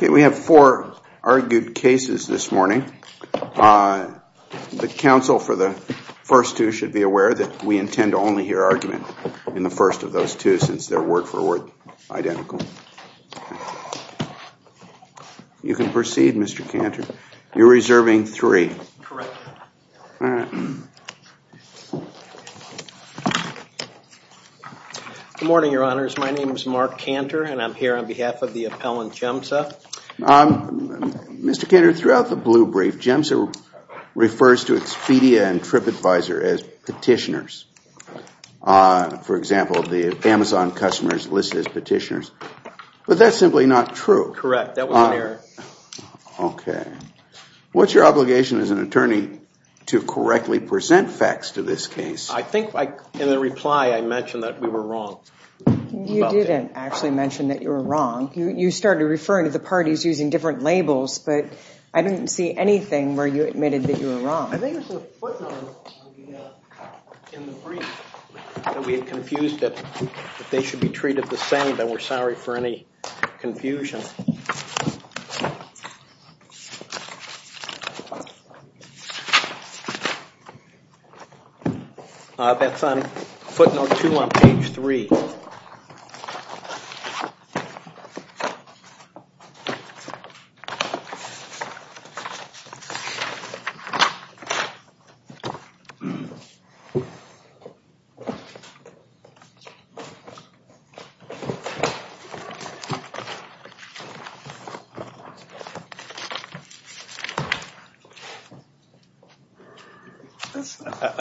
We have four argued cases this morning. The counsel for the first two should be aware that we intend to only hear argument in the first of those two since they are word for word identical. You can proceed, Mr. Cantor. You are reserving three. Correct. Good morning, Your Honors. My name is Mark Cantor and I'm here on behalf of the appellant, GEMSA. Mr. Cantor, throughout the blue brief, GEMSA refers to Expedia and TripAdvisor as petitioners. For example, the Amazon customers listed as petitioners. But that's simply not true. Correct. That was an error. Okay. What's your obligation as an attorney to correctly present facts to this case? I think in the reply I mentioned that we were wrong. You didn't actually mention that you were wrong. You started referring to the parties using different labels, but I didn't see anything where you admitted that you were wrong. I think it was in the footnotes in the brief that we had confused that they should be treated the same. We're sorry for any confusion. That's on footnote two on page three. I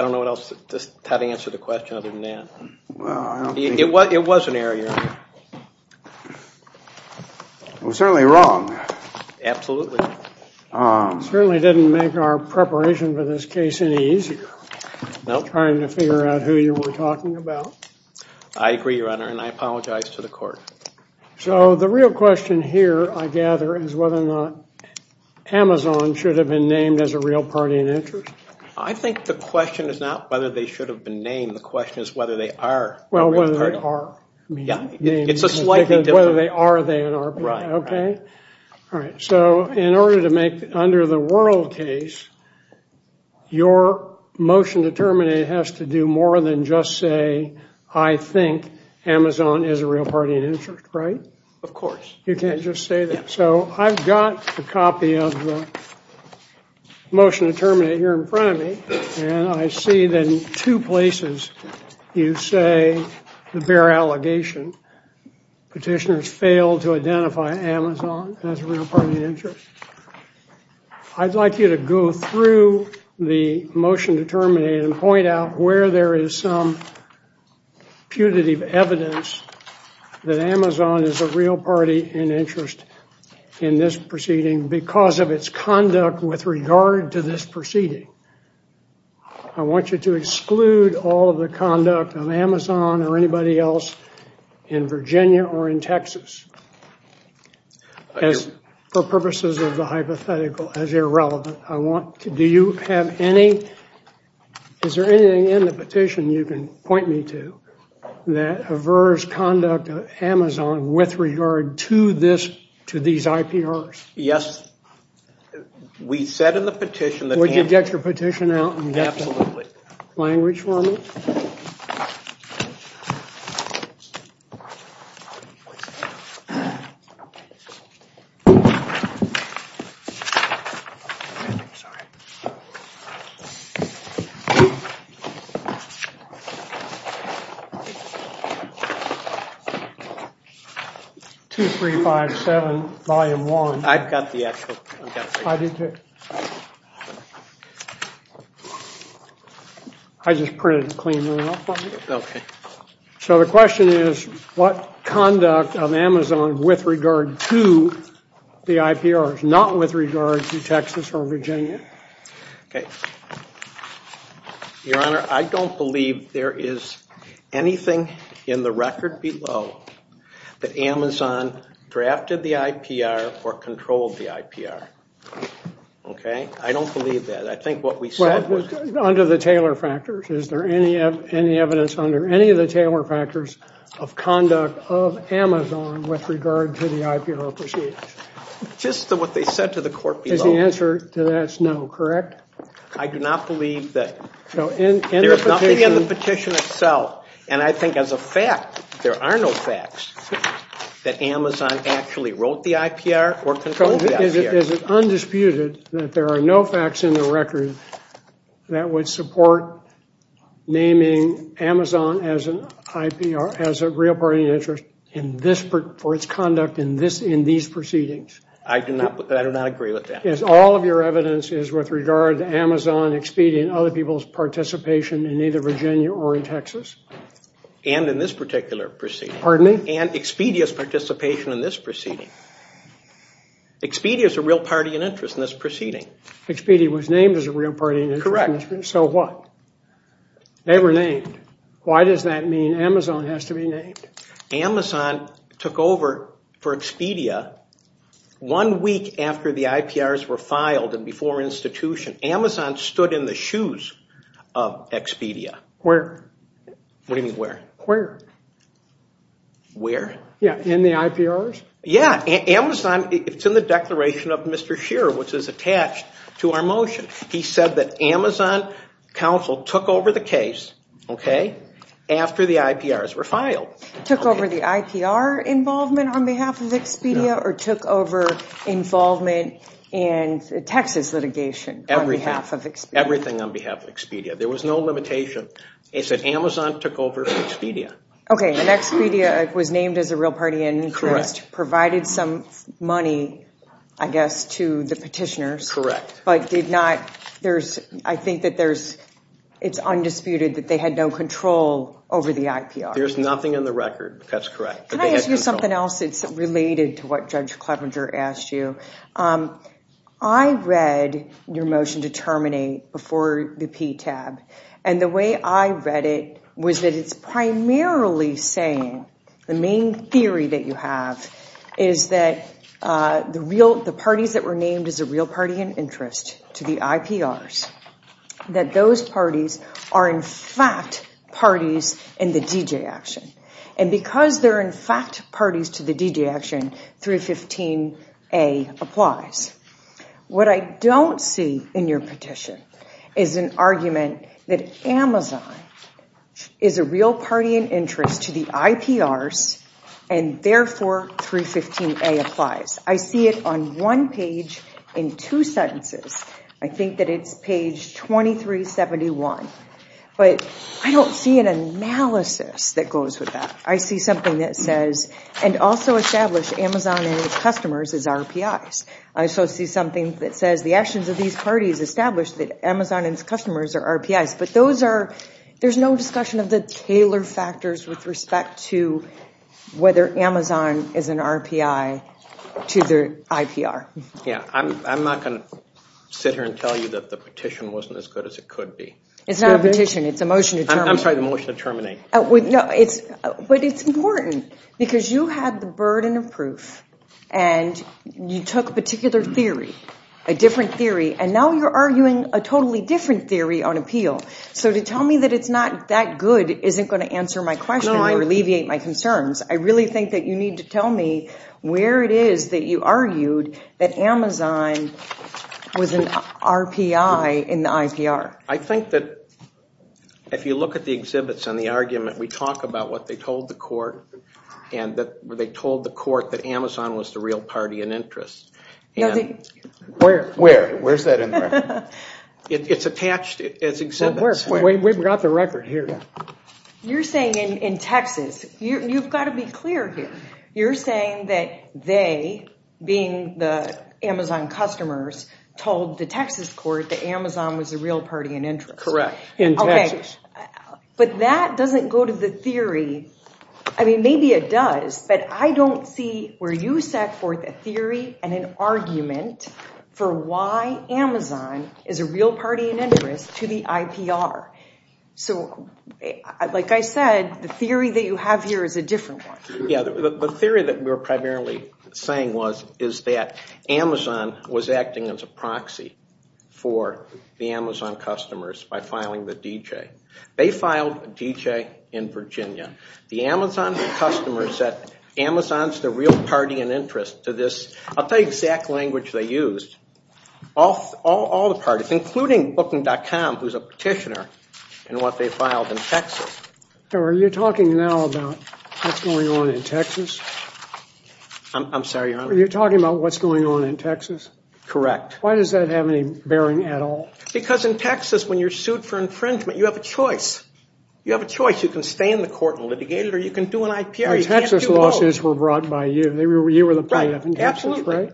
don't know how to answer the question other than that. It was an error, Your Honor. I'm certainly wrong. Absolutely. It certainly didn't make our preparation for this case any easier. Nope. Trying to figure out who you were talking about. I agree, Your Honor, and I apologize to the court. So the real question here, I gather, is whether or not Amazon should have been named as a real party in interest? I think the question is not whether they should have been named. The question is whether they are. Well, whether they are. Yeah. It's a slightly different. Whether they are, they are. Right. Okay. All right. So in order to make under the world case, your motion to terminate has to do more than just say, I think Amazon is a real party in interest, right? Of course. You can't just say that. So I've got a copy of the motion to terminate here in front of me, and I see then two places you say the bare allegation, petitioners failed to identify Amazon as a real party in interest. I'd like you to go through the motion to terminate and point out where there is some putative evidence that Amazon is a real party in interest in this proceeding because of its conduct with regard to this proceeding. I want you to exclude all of the conduct of Amazon or anybody else in Virginia or in Texas for purposes of the hypothetical as irrelevant. Do you have any, is there anything in the petition you can point me to that averts conduct of Amazon with regard to these IPRs? Yes. We said in the petition that Amazon is a real party in interest. Would you get your petition out and get the language for me? 2357, volume one. I've got the actual. I do too. I just printed a clean one out for you. Okay. So the question is what conduct of Amazon with regard to the IPRs, not with regard to Texas or Virginia? Okay. Your Honor, I don't believe there is anything in the record below that Amazon drafted the IPR or controlled the IPR. Okay. I don't believe that. I think what we said was. Under the Taylor factors, is there any evidence under any of the Taylor factors of conduct of Amazon with regard to the IPR proceedings? Just what they said to the court below. Is the answer to that no, correct? I do not believe that. So in the petition. There is nothing in the petition itself. And I think as a fact, there are no facts that Amazon actually wrote the IPR or controlled the IPR. Is it undisputed that there are no facts in the record that would support naming Amazon as a real party in interest for its conduct in these proceedings? I do not agree with that. Is all of your evidence is with regard to Amazon expedient other people's participation in either Virginia or in Texas? And in this particular proceeding. Pardon me? And Expedia's participation in this proceeding. Expedia is a real party in interest in this proceeding. Expedia was named as a real party in interest. Correct. So what? They were named. Why does that mean Amazon has to be named? Amazon took over for Expedia one week after the IPRs were filed and before institution. Amazon stood in the shoes of Expedia. Where? What do you mean where? Where? Where? Yeah. In the IPRs? Yeah. Amazon, it's in the declaration of Mr. Shearer, which is attached to our motion. He said that Amazon counsel took over the case, okay, after the IPRs were filed. Took over the IPR involvement on behalf of Expedia or took over involvement in Texas litigation on behalf of Expedia? Everything on behalf of Expedia. There was no limitation. It's that Amazon took over Expedia. Okay. And Expedia was named as a real party in interest, provided some money, I guess, to the petitioners. Correct. But did not, there's, I think that there's, it's undisputed that they had no control over the IPR. There's nothing in the record. That's correct. Can I ask you something else? It's related to what Judge Clevenger asked you. I read your motion to terminate before the PTAB. And the way I read it was that it's primarily saying, the main theory that you have is that the parties that were named as a real party in interest to the IPRs, that those parties are in fact parties in the DJ action. And because they're in fact parties to the DJ action, 315A applies. What I don't see in your petition is an argument that Amazon is a real party in interest to the IPRs and therefore 315A applies. I see it on one page in two sentences. I think that it's page 2371. But I don't see an analysis that goes with that. I see something that says, and also establish Amazon and its customers as RPIs. I also see something that says the actions of these parties establish that Amazon and its customers are RPIs. But those are, there's no discussion of the Taylor factors with respect to whether Amazon is an RPI to the IPR. Yeah, I'm not going to sit here and tell you that the petition wasn't as good as it could be. It's not a petition, it's a motion to terminate. I'm sorry, a motion to terminate. But it's important because you had the burden of proof and you took a particular theory, a different theory, and now you're arguing a totally different theory on appeal. So to tell me that it's not that good isn't going to answer my question or alleviate my concerns. I really think that you need to tell me where it is that you argued that Amazon was an RPI in the IPR. I think that if you look at the exhibits and the argument, we talk about what they told the court, and that they told the court that Amazon was the real party in interest. Where? Where's that in there? It's attached as exhibits. We've got the record here. You're saying in Texas, you've got to be clear here. You're saying that they, being the Amazon customers, told the Texas court that Amazon was the real party in interest. Correct, in Texas. But that doesn't go to the theory. I mean, maybe it does, but I don't see where you set forth a theory and an argument for why Amazon is a real party in interest to the IPR. So, like I said, the theory that you have here is a different one. Yeah, the theory that we're primarily saying is that Amazon was acting as a proxy for the Amazon customers by filing the DJ. They filed a DJ in Virginia. The Amazon customers said Amazon's the real party in interest to this. I'll tell you the exact language they used. All the parties, including Booking.com, who's a petitioner, and what they filed in Texas. Are you talking now about what's going on in Texas? I'm sorry. You're talking about what's going on in Texas? Correct. Why does that have any bearing at all? Because in Texas, when you're sued for infringement, you have a choice. You have a choice. You can stay in the court and litigate it, or you can do an IPR. The Texas lawsuits were brought by you. You were the plaintiff in Texas, right?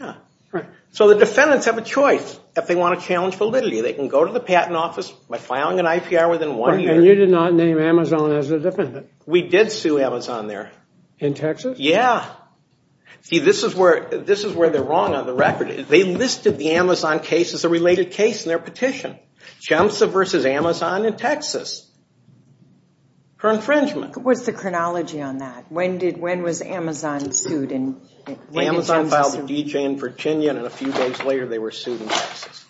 Absolutely. So the defendants have a choice if they want to challenge validity. They can go to the patent office by filing an IPR within one year. And you did not name Amazon as a defendant? We did sue Amazon there. In Texas? Yeah. See, this is where they're wrong on the record. They listed the Amazon case as a related case in their petition. JEMSA versus Amazon in Texas for infringement. What's the chronology on that? When was Amazon sued? Amazon filed the DJ in Virginia, and a few days later, they were sued in Texas.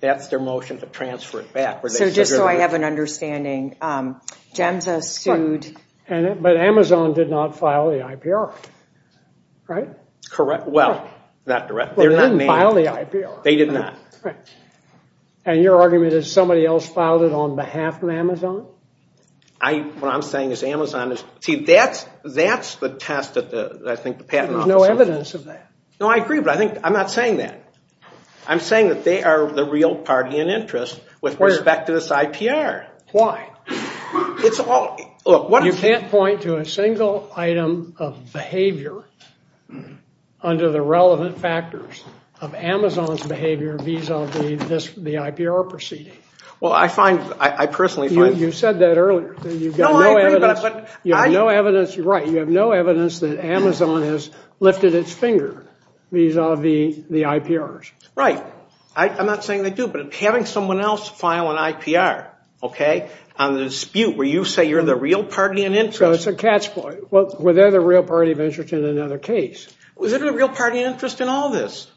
That's their motion to transfer it back. So just so I have an understanding, JEMSA sued... But Amazon did not file the IPR, right? Correct. Well, they didn't file the IPR. They did not. And your argument is somebody else filed it on behalf of Amazon? What I'm saying is Amazon is... See, that's the test that I think the patent office... There's no evidence of that. No, I agree, but I'm not saying that. I'm saying that they are the real party in interest with respect to this IPR. Why? It's all... You can't point to a single item of behavior under the relevant factors of Amazon's behavior vis-a-vis the IPR proceeding. Well, I find... I personally find... You said that earlier. No, I agree, but... You have no evidence... Right. I'm not saying they do, but having someone else file an IPR, okay, on the dispute where you say you're the real party in interest... So it's a catch... Well, they're the real party of interest in another case. Is there a real party of interest in all this?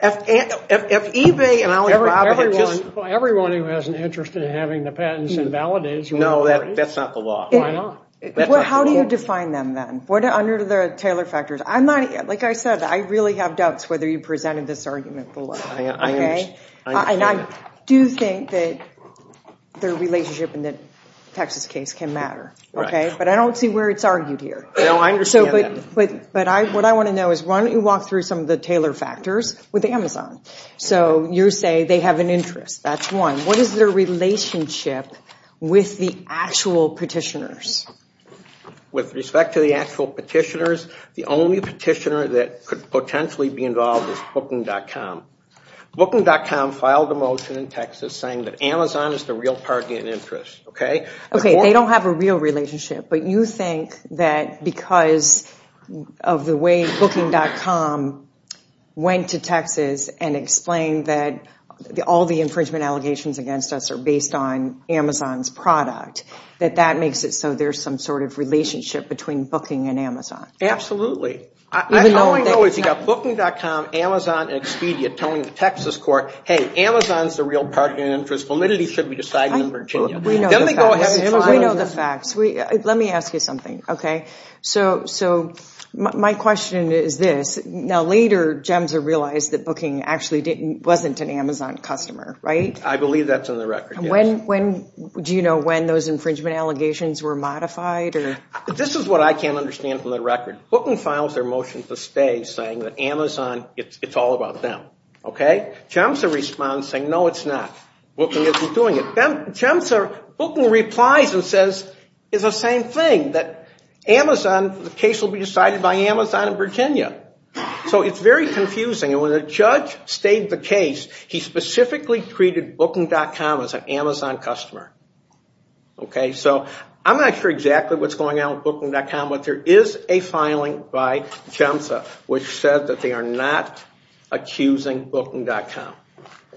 If eBay and... Everyone who has an interest in having the patents invalidated... No, that's not the law. Why not? How do you define them, then? Under the Taylor factors? Like I said, I really have doubts whether you presented this argument below. I understand. And I do think that their relationship in the Texas case can matter, okay? But I don't see where it's argued here. No, I understand that. But what I want to know is why don't you walk through some of the Taylor factors with Amazon? So you say they have an interest. That's one. What is their relationship with the actual petitioners? With respect to the actual petitioners, the only petitioner that could potentially be involved is Booking.com. Booking.com filed a motion in Texas saying that Amazon is the real party in interest, okay? Okay, they don't have a real relationship. But you think that because of the way Booking.com went to Texas and explained that all the infringement allegations against us are based on Amazon's product, that that makes it so there's some sort of relationship between Booking and Amazon? Absolutely. All I know is you've got Booking.com, Amazon, and Expedia telling the Texas court, hey, Amazon's the real party in interest. Validity should be decided in Virginia. We know the facts. We know the facts. Let me ask you something, okay? So my question is this. Now, later, GEMSA realized that Booking actually wasn't an Amazon customer, right? I believe that's on the record, yes. Do you know when those infringement allegations were modified? This is what I can't understand from the record. Booking files their motion to stay saying that Amazon, it's all about them, okay? GEMSA responds saying, no, it's not. Booking isn't doing it. GEMSA, Booking replies and says it's the same thing, that Amazon, the case will be decided by Amazon in Virginia. So it's very confusing. When the judge stated the case, he specifically treated Booking.com as an Amazon customer, okay? So I'm not sure exactly what's going on with Booking.com, but there is a filing by GEMSA which said that they are not accusing Booking.com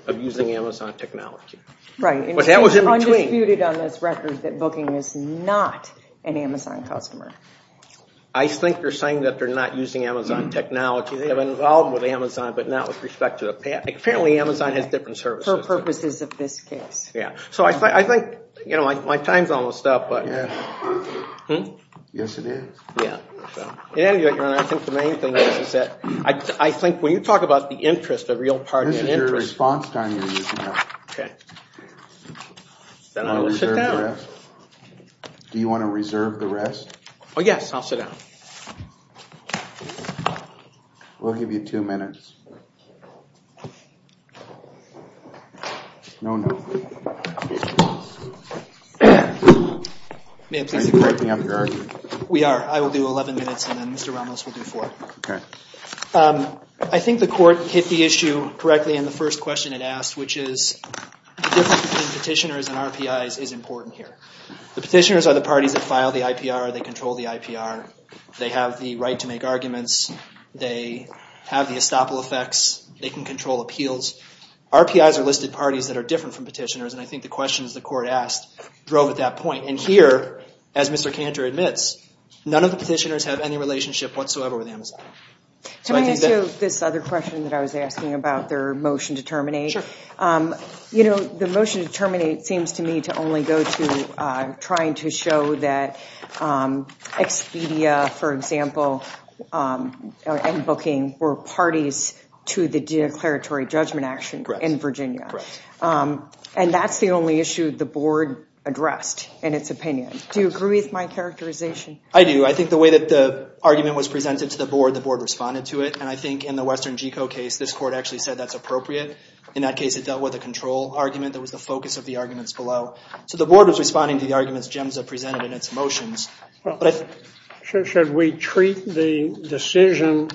of using Amazon technology. Right. But that was in between. Undisputed on this record that Booking is not an Amazon customer. I think they're saying that they're not using Amazon technology. They have been involved with Amazon, but not with respect to the patent. Apparently Amazon has different services. For purposes of this case. Yeah. So I think, you know, my time's almost up, but. Yes, it is. Yeah. In any event, Your Honor, I think the main thing is that I think when you talk about the interest, the real part of the interest. This is your response time you're using now. Okay. Then I'm going to sit down. Do you want to reserve the rest? Oh, yes. I'll sit down. We'll give you two minutes. No, no. Are you breaking up your argument? We are. I will do 11 minutes and then Mr. Ramos will do four. Okay. I think the court hit the issue correctly in the first question it asked, which is the difference between petitioners and RPIs is important here. The petitioners are the parties that file the IPR. They control the IPR. They have the right to make arguments. They have the estoppel effects. They can control appeals. RPIs are listed parties that are different from petitioners, and I think the questions the court asked drove at that point. And here, as Mr. Cantor admits, none of the petitioners have any relationship whatsoever with Amazon. Can I ask you this other question that I was asking about their motion to terminate? Sure. You know, the motion to terminate seems to me to only go to trying to show that Expedia, for example, and booking were parties to the declaratory judgment action in Virginia. Correct. And that's the only issue the board addressed in its opinion. Do you agree with my characterization? I do. I think the way that the argument was presented to the board, the board responded to it, and I think in the Western GECO case this court actually said that's appropriate. In that case it dealt with a control argument. That was the focus of the arguments below. So the board was responding to the arguments GEMSA presented in its motions. Should we treat the decision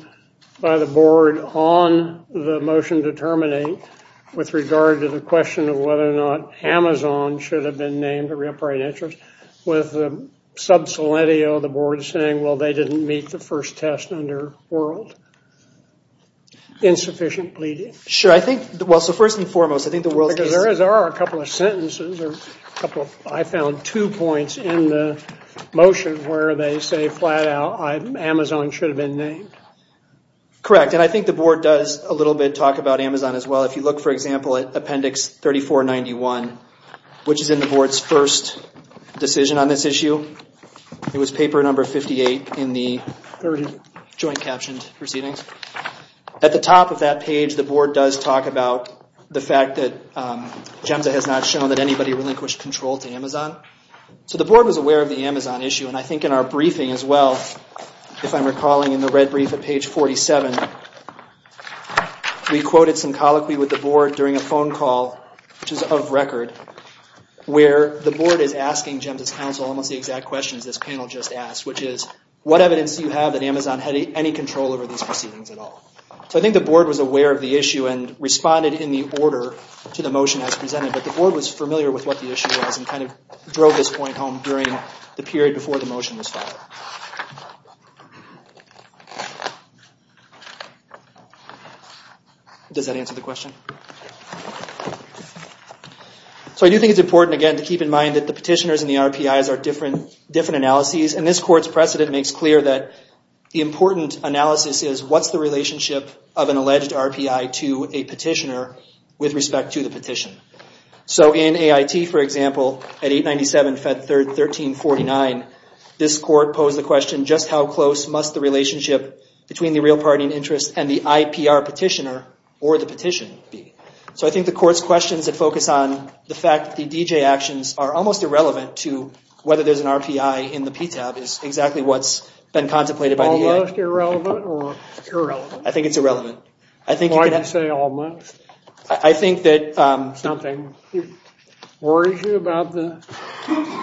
by the board on the motion to terminate with regard to the question of whether or not Amazon should have been named a real private interest with the sub-soletio of the board saying, well, they didn't meet the first test under World? Insufficient pleading. Sure. I think, well, so first and foremost, I think the World. Because there are a couple of sentences or a couple, I found two points in the motion where they say flat out Amazon should have been named. Correct. And I think the board does a little bit talk about Amazon as well. If you look, for example, at appendix 3491, which is in the board's first decision on this issue, it was paper number 58 in the joint captioned proceedings. At the top of that page, the board does talk about the fact that GEMSA has not shown that anybody relinquished control to Amazon. So the board was aware of the Amazon issue. And I think in our briefing as well, if I'm recalling in the red brief at page 47, we quoted some colloquy with the board during a phone call, which is of record, where the board is asking GEMSA's counsel almost the exact questions this panel just asked, which is, what evidence do you have that Amazon had any control over these proceedings at all? So I think the board was aware of the issue and responded in the order to the motion as presented. But the board was familiar with what the issue was and kind of drove this point home during the period before the motion was filed. Does that answer the question? So I do think it's important, again, to keep in mind that the petitioners and the RPIs are different analyses. And this court's precedent makes clear that the important analysis is, what's the relationship of an alleged RPI to a petitioner with respect to the petition? So in AIT, for example, at 897 Fed Third 1349, this court posed the question, just how close must the relationship between the real party and interest and the IPR petitioner or the petition be? So I think the court's questions that focus on the fact that the DJ actions are almost irrelevant to whether there's an RPI in the PTAB is exactly what's been contemplated by the AIT. Almost irrelevant or irrelevant? I think it's irrelevant. Why do you say almost? I think that... Something worries you about the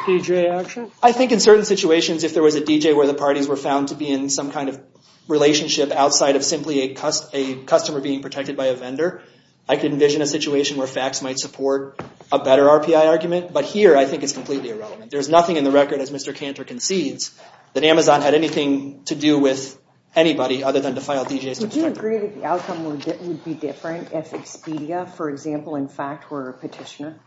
DJ action? I think in certain situations, if there was a DJ where the parties were found to be in some kind of relationship outside of simply a customer being protected by a vendor, I could envision a situation where facts might support a better RPI argument. But here, I think it's completely irrelevant. There's nothing in the record, as Mr. Cantor concedes, that Amazon had anything to do with anybody other than defiled DJs. Would you agree that the outcome would be different if Expedia, for example, in fact, were a petitioner?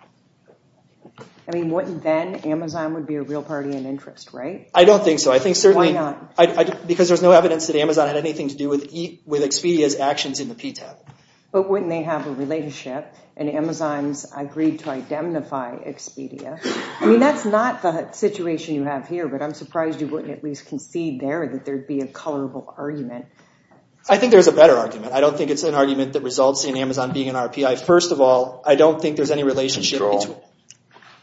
I mean, wouldn't then Amazon would be a real party and interest, right? I don't think so. I think certainly... Why not? Because there's no evidence that Amazon had anything to do with Expedia's actions in the PTAB. But wouldn't they have a relationship and Amazon's agreed to identify Expedia? I mean, that's not the situation you have here, but I'm surprised you wouldn't at least concede there that there'd be a colorful argument. I think there's a better argument. I don't think it's an argument that results in Amazon being an RPI. First of all, I don't think there's any relationship... Control.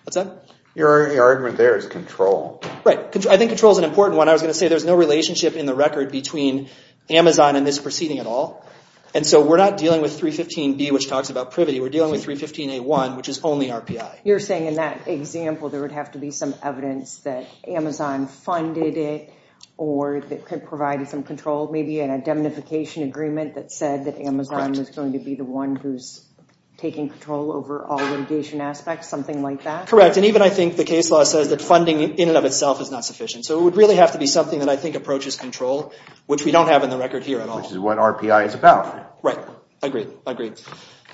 What's that? Your argument there is control. Right. I think control is an important one. I was going to say there's no relationship in the record between Amazon and this proceeding at all. And so we're not dealing with 315B, which talks about privity. We're dealing with 315A1, which is only RPI. You're saying in that example there would have to be some evidence that Amazon funded it or that provided some control, maybe an identification agreement that said that Amazon was going to be the one who's taking control over all litigation aspects, something like that? Correct. And even I think the case law says that funding in and of itself is not sufficient. So it would really have to be something that I think approaches control, which we don't have in the record here at all. Which is what RPI is about. Right. Agreed.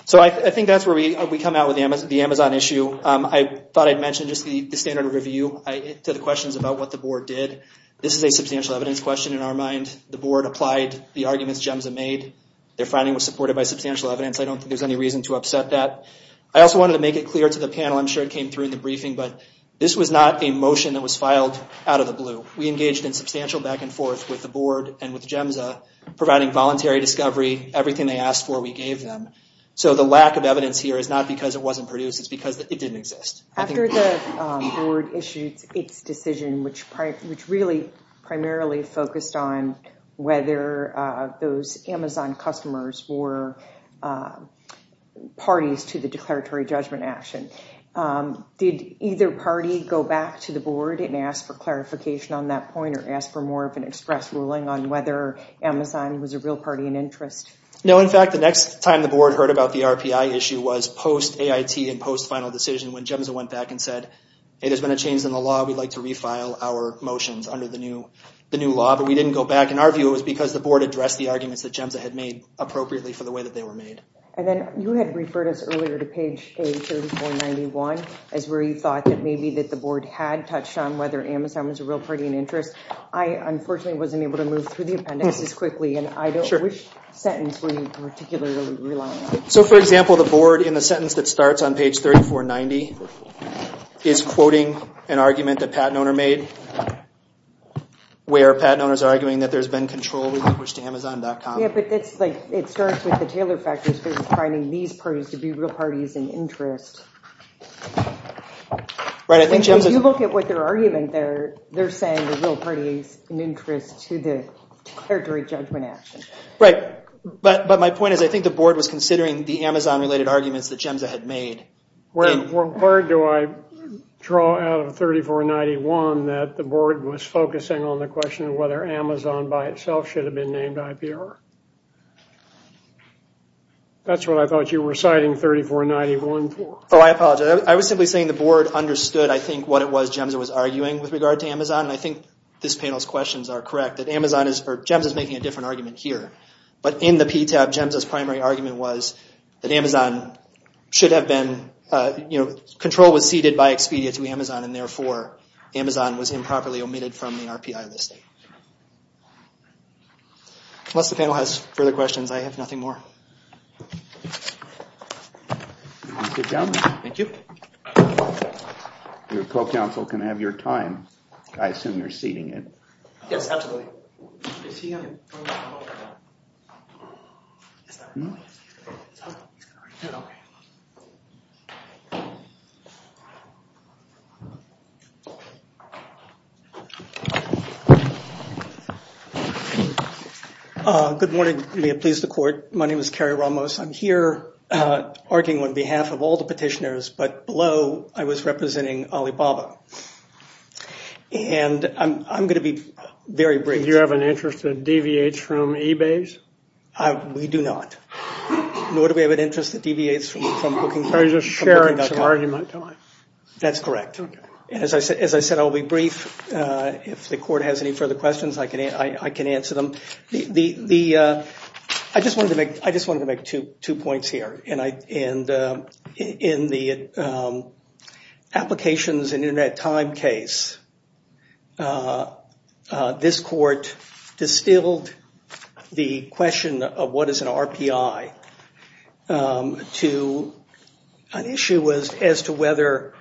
So I think that's where we come out with the Amazon issue. I thought I'd mention just the standard review to the questions about what the board did. This is a substantial evidence question in our mind. The board applied the arguments GEMSA made. Their finding was supported by substantial evidence. I don't think there's any reason to upset that. I also wanted to make it clear to the panel, I'm sure it came through in the briefing, but this was not a motion that was filed out of the blue. We engaged in substantial back and forth with the board and with GEMSA, providing voluntary discovery, everything they asked for we gave them. So the lack of evidence here is not because it wasn't produced, it's because it didn't exist. After the board issued its decision, which really primarily focused on whether those Amazon customers were parties to the declaratory judgment action, did either party go back to the board and ask for clarification on that point or ask for more of an express ruling on whether Amazon was a real party in interest? No, in fact, the next time the board heard about the RPI issue was post-AIT and post-final decision when GEMSA went back and said, hey, there's been a change in the law, we'd like to refile our motions under the new law. But we didn't go back. In our view, it was because the board addressed the arguments that GEMSA had made appropriately for the way that they were made. And then you had referred us earlier to page A3491, as where you thought that maybe the board had touched on whether Amazon was a real party in interest. I, unfortunately, wasn't able to move through the appendix as quickly, and I don't know which sentence were you particularly relying on. So, for example, the board, in the sentence that starts on page 3490, is quoting an argument that Pat Noehner made, where Pat Noehner's arguing that there's been control relinquished to Amazon.com. Yeah, but it starts with the Taylor factors versus finding these parties to be real parties in interest. Right, I think GEMSA... If you look at what their argument there, they're saying the real party is in interest to the territory judgment action. Right, but my point is I think the board was considering the Amazon-related arguments that GEMSA had made. Where do I draw out of 3491 that the board was focusing on the question of whether Amazon by itself should have been named IPR? That's what I thought you were citing 3491 for. Oh, I apologize. I was simply saying the board understood, I think, what it was GEMSA was arguing with regard to Amazon, and I think this panel's questions are correct. GEMSA's making a different argument here, but in the PTAB, GEMSA's primary argument was that Amazon should have been... Control was ceded by Expedia to Amazon, and therefore Amazon was improperly omitted from the RPI listing. Unless the panel has further questions, I have nothing more. Your co-counsel can have your time. I assume you're ceding it. Yes, absolutely. Good morning. May it please the court. My name is Kerry Ramos. I'm here arguing on behalf of all the petitioners, but below I was representing Alibaba, and I'm going to be very brief. Do you have an interest that deviates from eBay's? We do not, nor do we have an interest that deviates from Booking.com. So you're just sharing some argument to me. That's correct. As I said, I'll be brief. If the court has any further questions, I can answer them. I just wanted to make two points here. In the applications and Internet time case, this court distilled the question of what is an RPI to an issue as to whether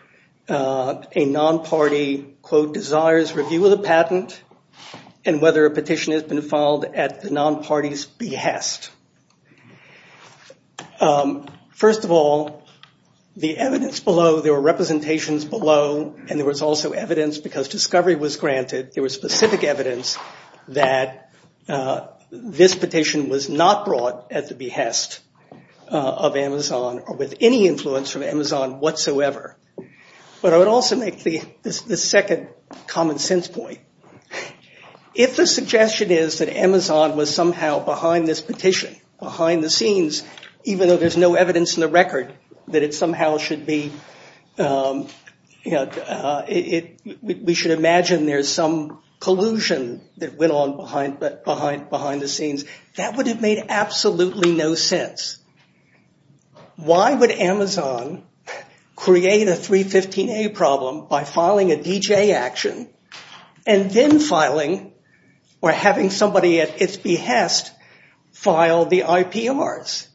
a non-party, quote, desires review of the patent and whether a petition has been filed at the non-party's behest. First of all, the evidence below, there were representations below, and there was also evidence, because discovery was granted, there was specific evidence that this petition was not brought at the behest of Amazon or with any influence from Amazon whatsoever. But I would also make the second common sense point. If the suggestion is that Amazon was somehow behind this petition, behind the scenes, even though there's no evidence in the record that it somehow should be, we should imagine there's some collusion that went on behind the scenes, that would have made absolutely no sense. Why would Amazon create a 315A problem by filing a DJ action and then filing or having somebody at its behest file the IPRs,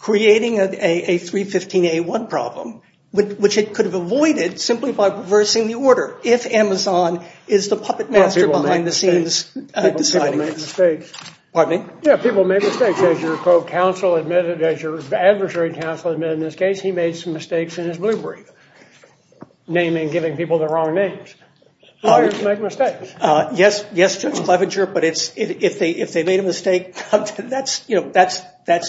creating a 315A1 problem, which it could have avoided simply by reversing the order if Amazon is the puppet master People make mistakes. Pardon me? As your adversary counsel admitted in this case, he made some mistakes in his blue brief, naming, giving people the wrong names. Lawyers make mistakes. Yes, Judge Clevenger, but if they made a mistake, that's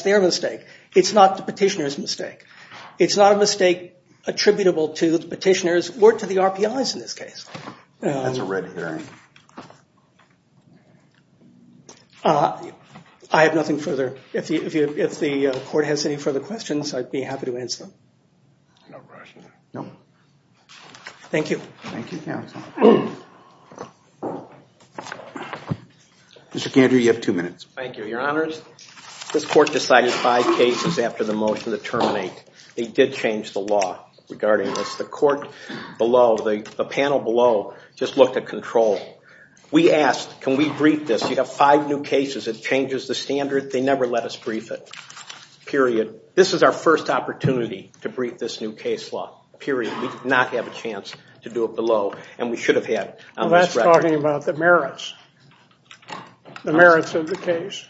their mistake. It's not the petitioner's mistake. It's not a mistake attributable to the petitioner's or to the RPI's in this case. That's a red herring. I have nothing further. If the court has any further questions, I'd be happy to answer them. No questions. No. Thank you. Thank you, counsel. Mr. Kandrew, you have two minutes. Thank you, your honors. This court decided five cases after the motion to terminate. They did change the law regarding this. The court below, the panel below just looked at control We asked, can we brief this? You have five new cases. It changes the standard. They never let us brief it. Period. This is our first opportunity to brief this new case law. Period. We did not have a chance to do it below, and we should have had on this record. Well, that's talking about the merits. The merits of the case.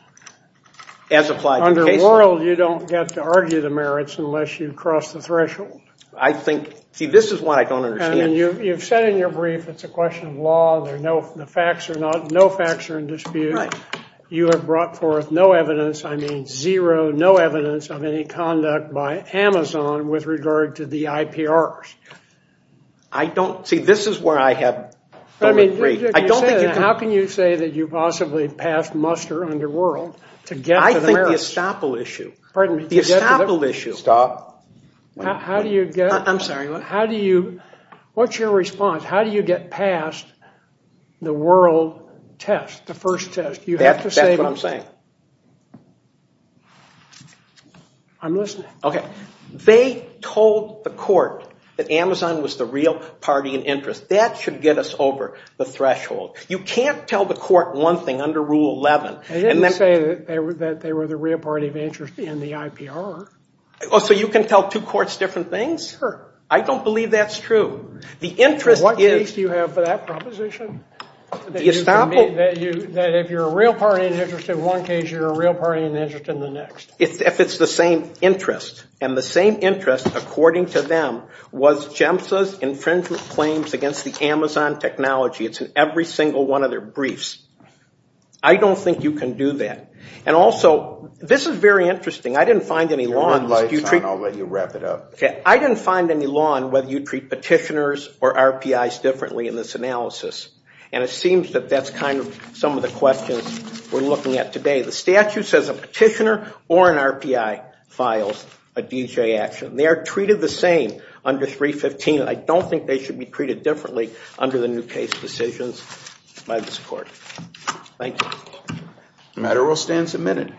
As applied to the case law. Under Laurel, you don't get to argue the merits unless you cross the threshold. I think, see, this is what I don't understand. You've said in your brief it's a question of law. The facts are not, no facts are in dispute. You have brought forth no evidence, I mean zero, no evidence of any conduct by Amazon with regard to the IPRs. I don't, see, this is where I have, I don't agree. How can you say that you possibly passed muster under Laurel to get to the merits? I think the estoppel issue. Pardon me? The estoppel issue. Stop. How do you get? I'm sorry, what? How do you, what's your response? How do you get past the world test, the first test? That's what I'm saying. I'm listening. Okay. They told the court that Amazon was the real party in interest. That should get us over the threshold. You can't tell the court one thing under Rule 11. They didn't say that they were the real party of interest in the IPR. So you can tell two courts different things? Sure. I don't believe that's true. The interest is. What case do you have for that proposition? The estoppel? That if you're a real party in interest in one case, you're a real party in interest in the next. If it's the same interest. And the same interest, according to them, was GEMSA's infringement claims against the Amazon technology. It's in every single one of their briefs. I don't think you can do that. And also, this is very interesting. I didn't find any law. I'll let you wrap it up. I didn't find any law on whether you treat petitioners or RPIs differently in this analysis. And it seems that that's kind of some of the questions we're looking at today. The statute says a petitioner or an RPI files a DJ action. They are treated the same under 315. I don't think they should be treated differently under the new case decisions by this court. Thank you. The matter will stand submitted.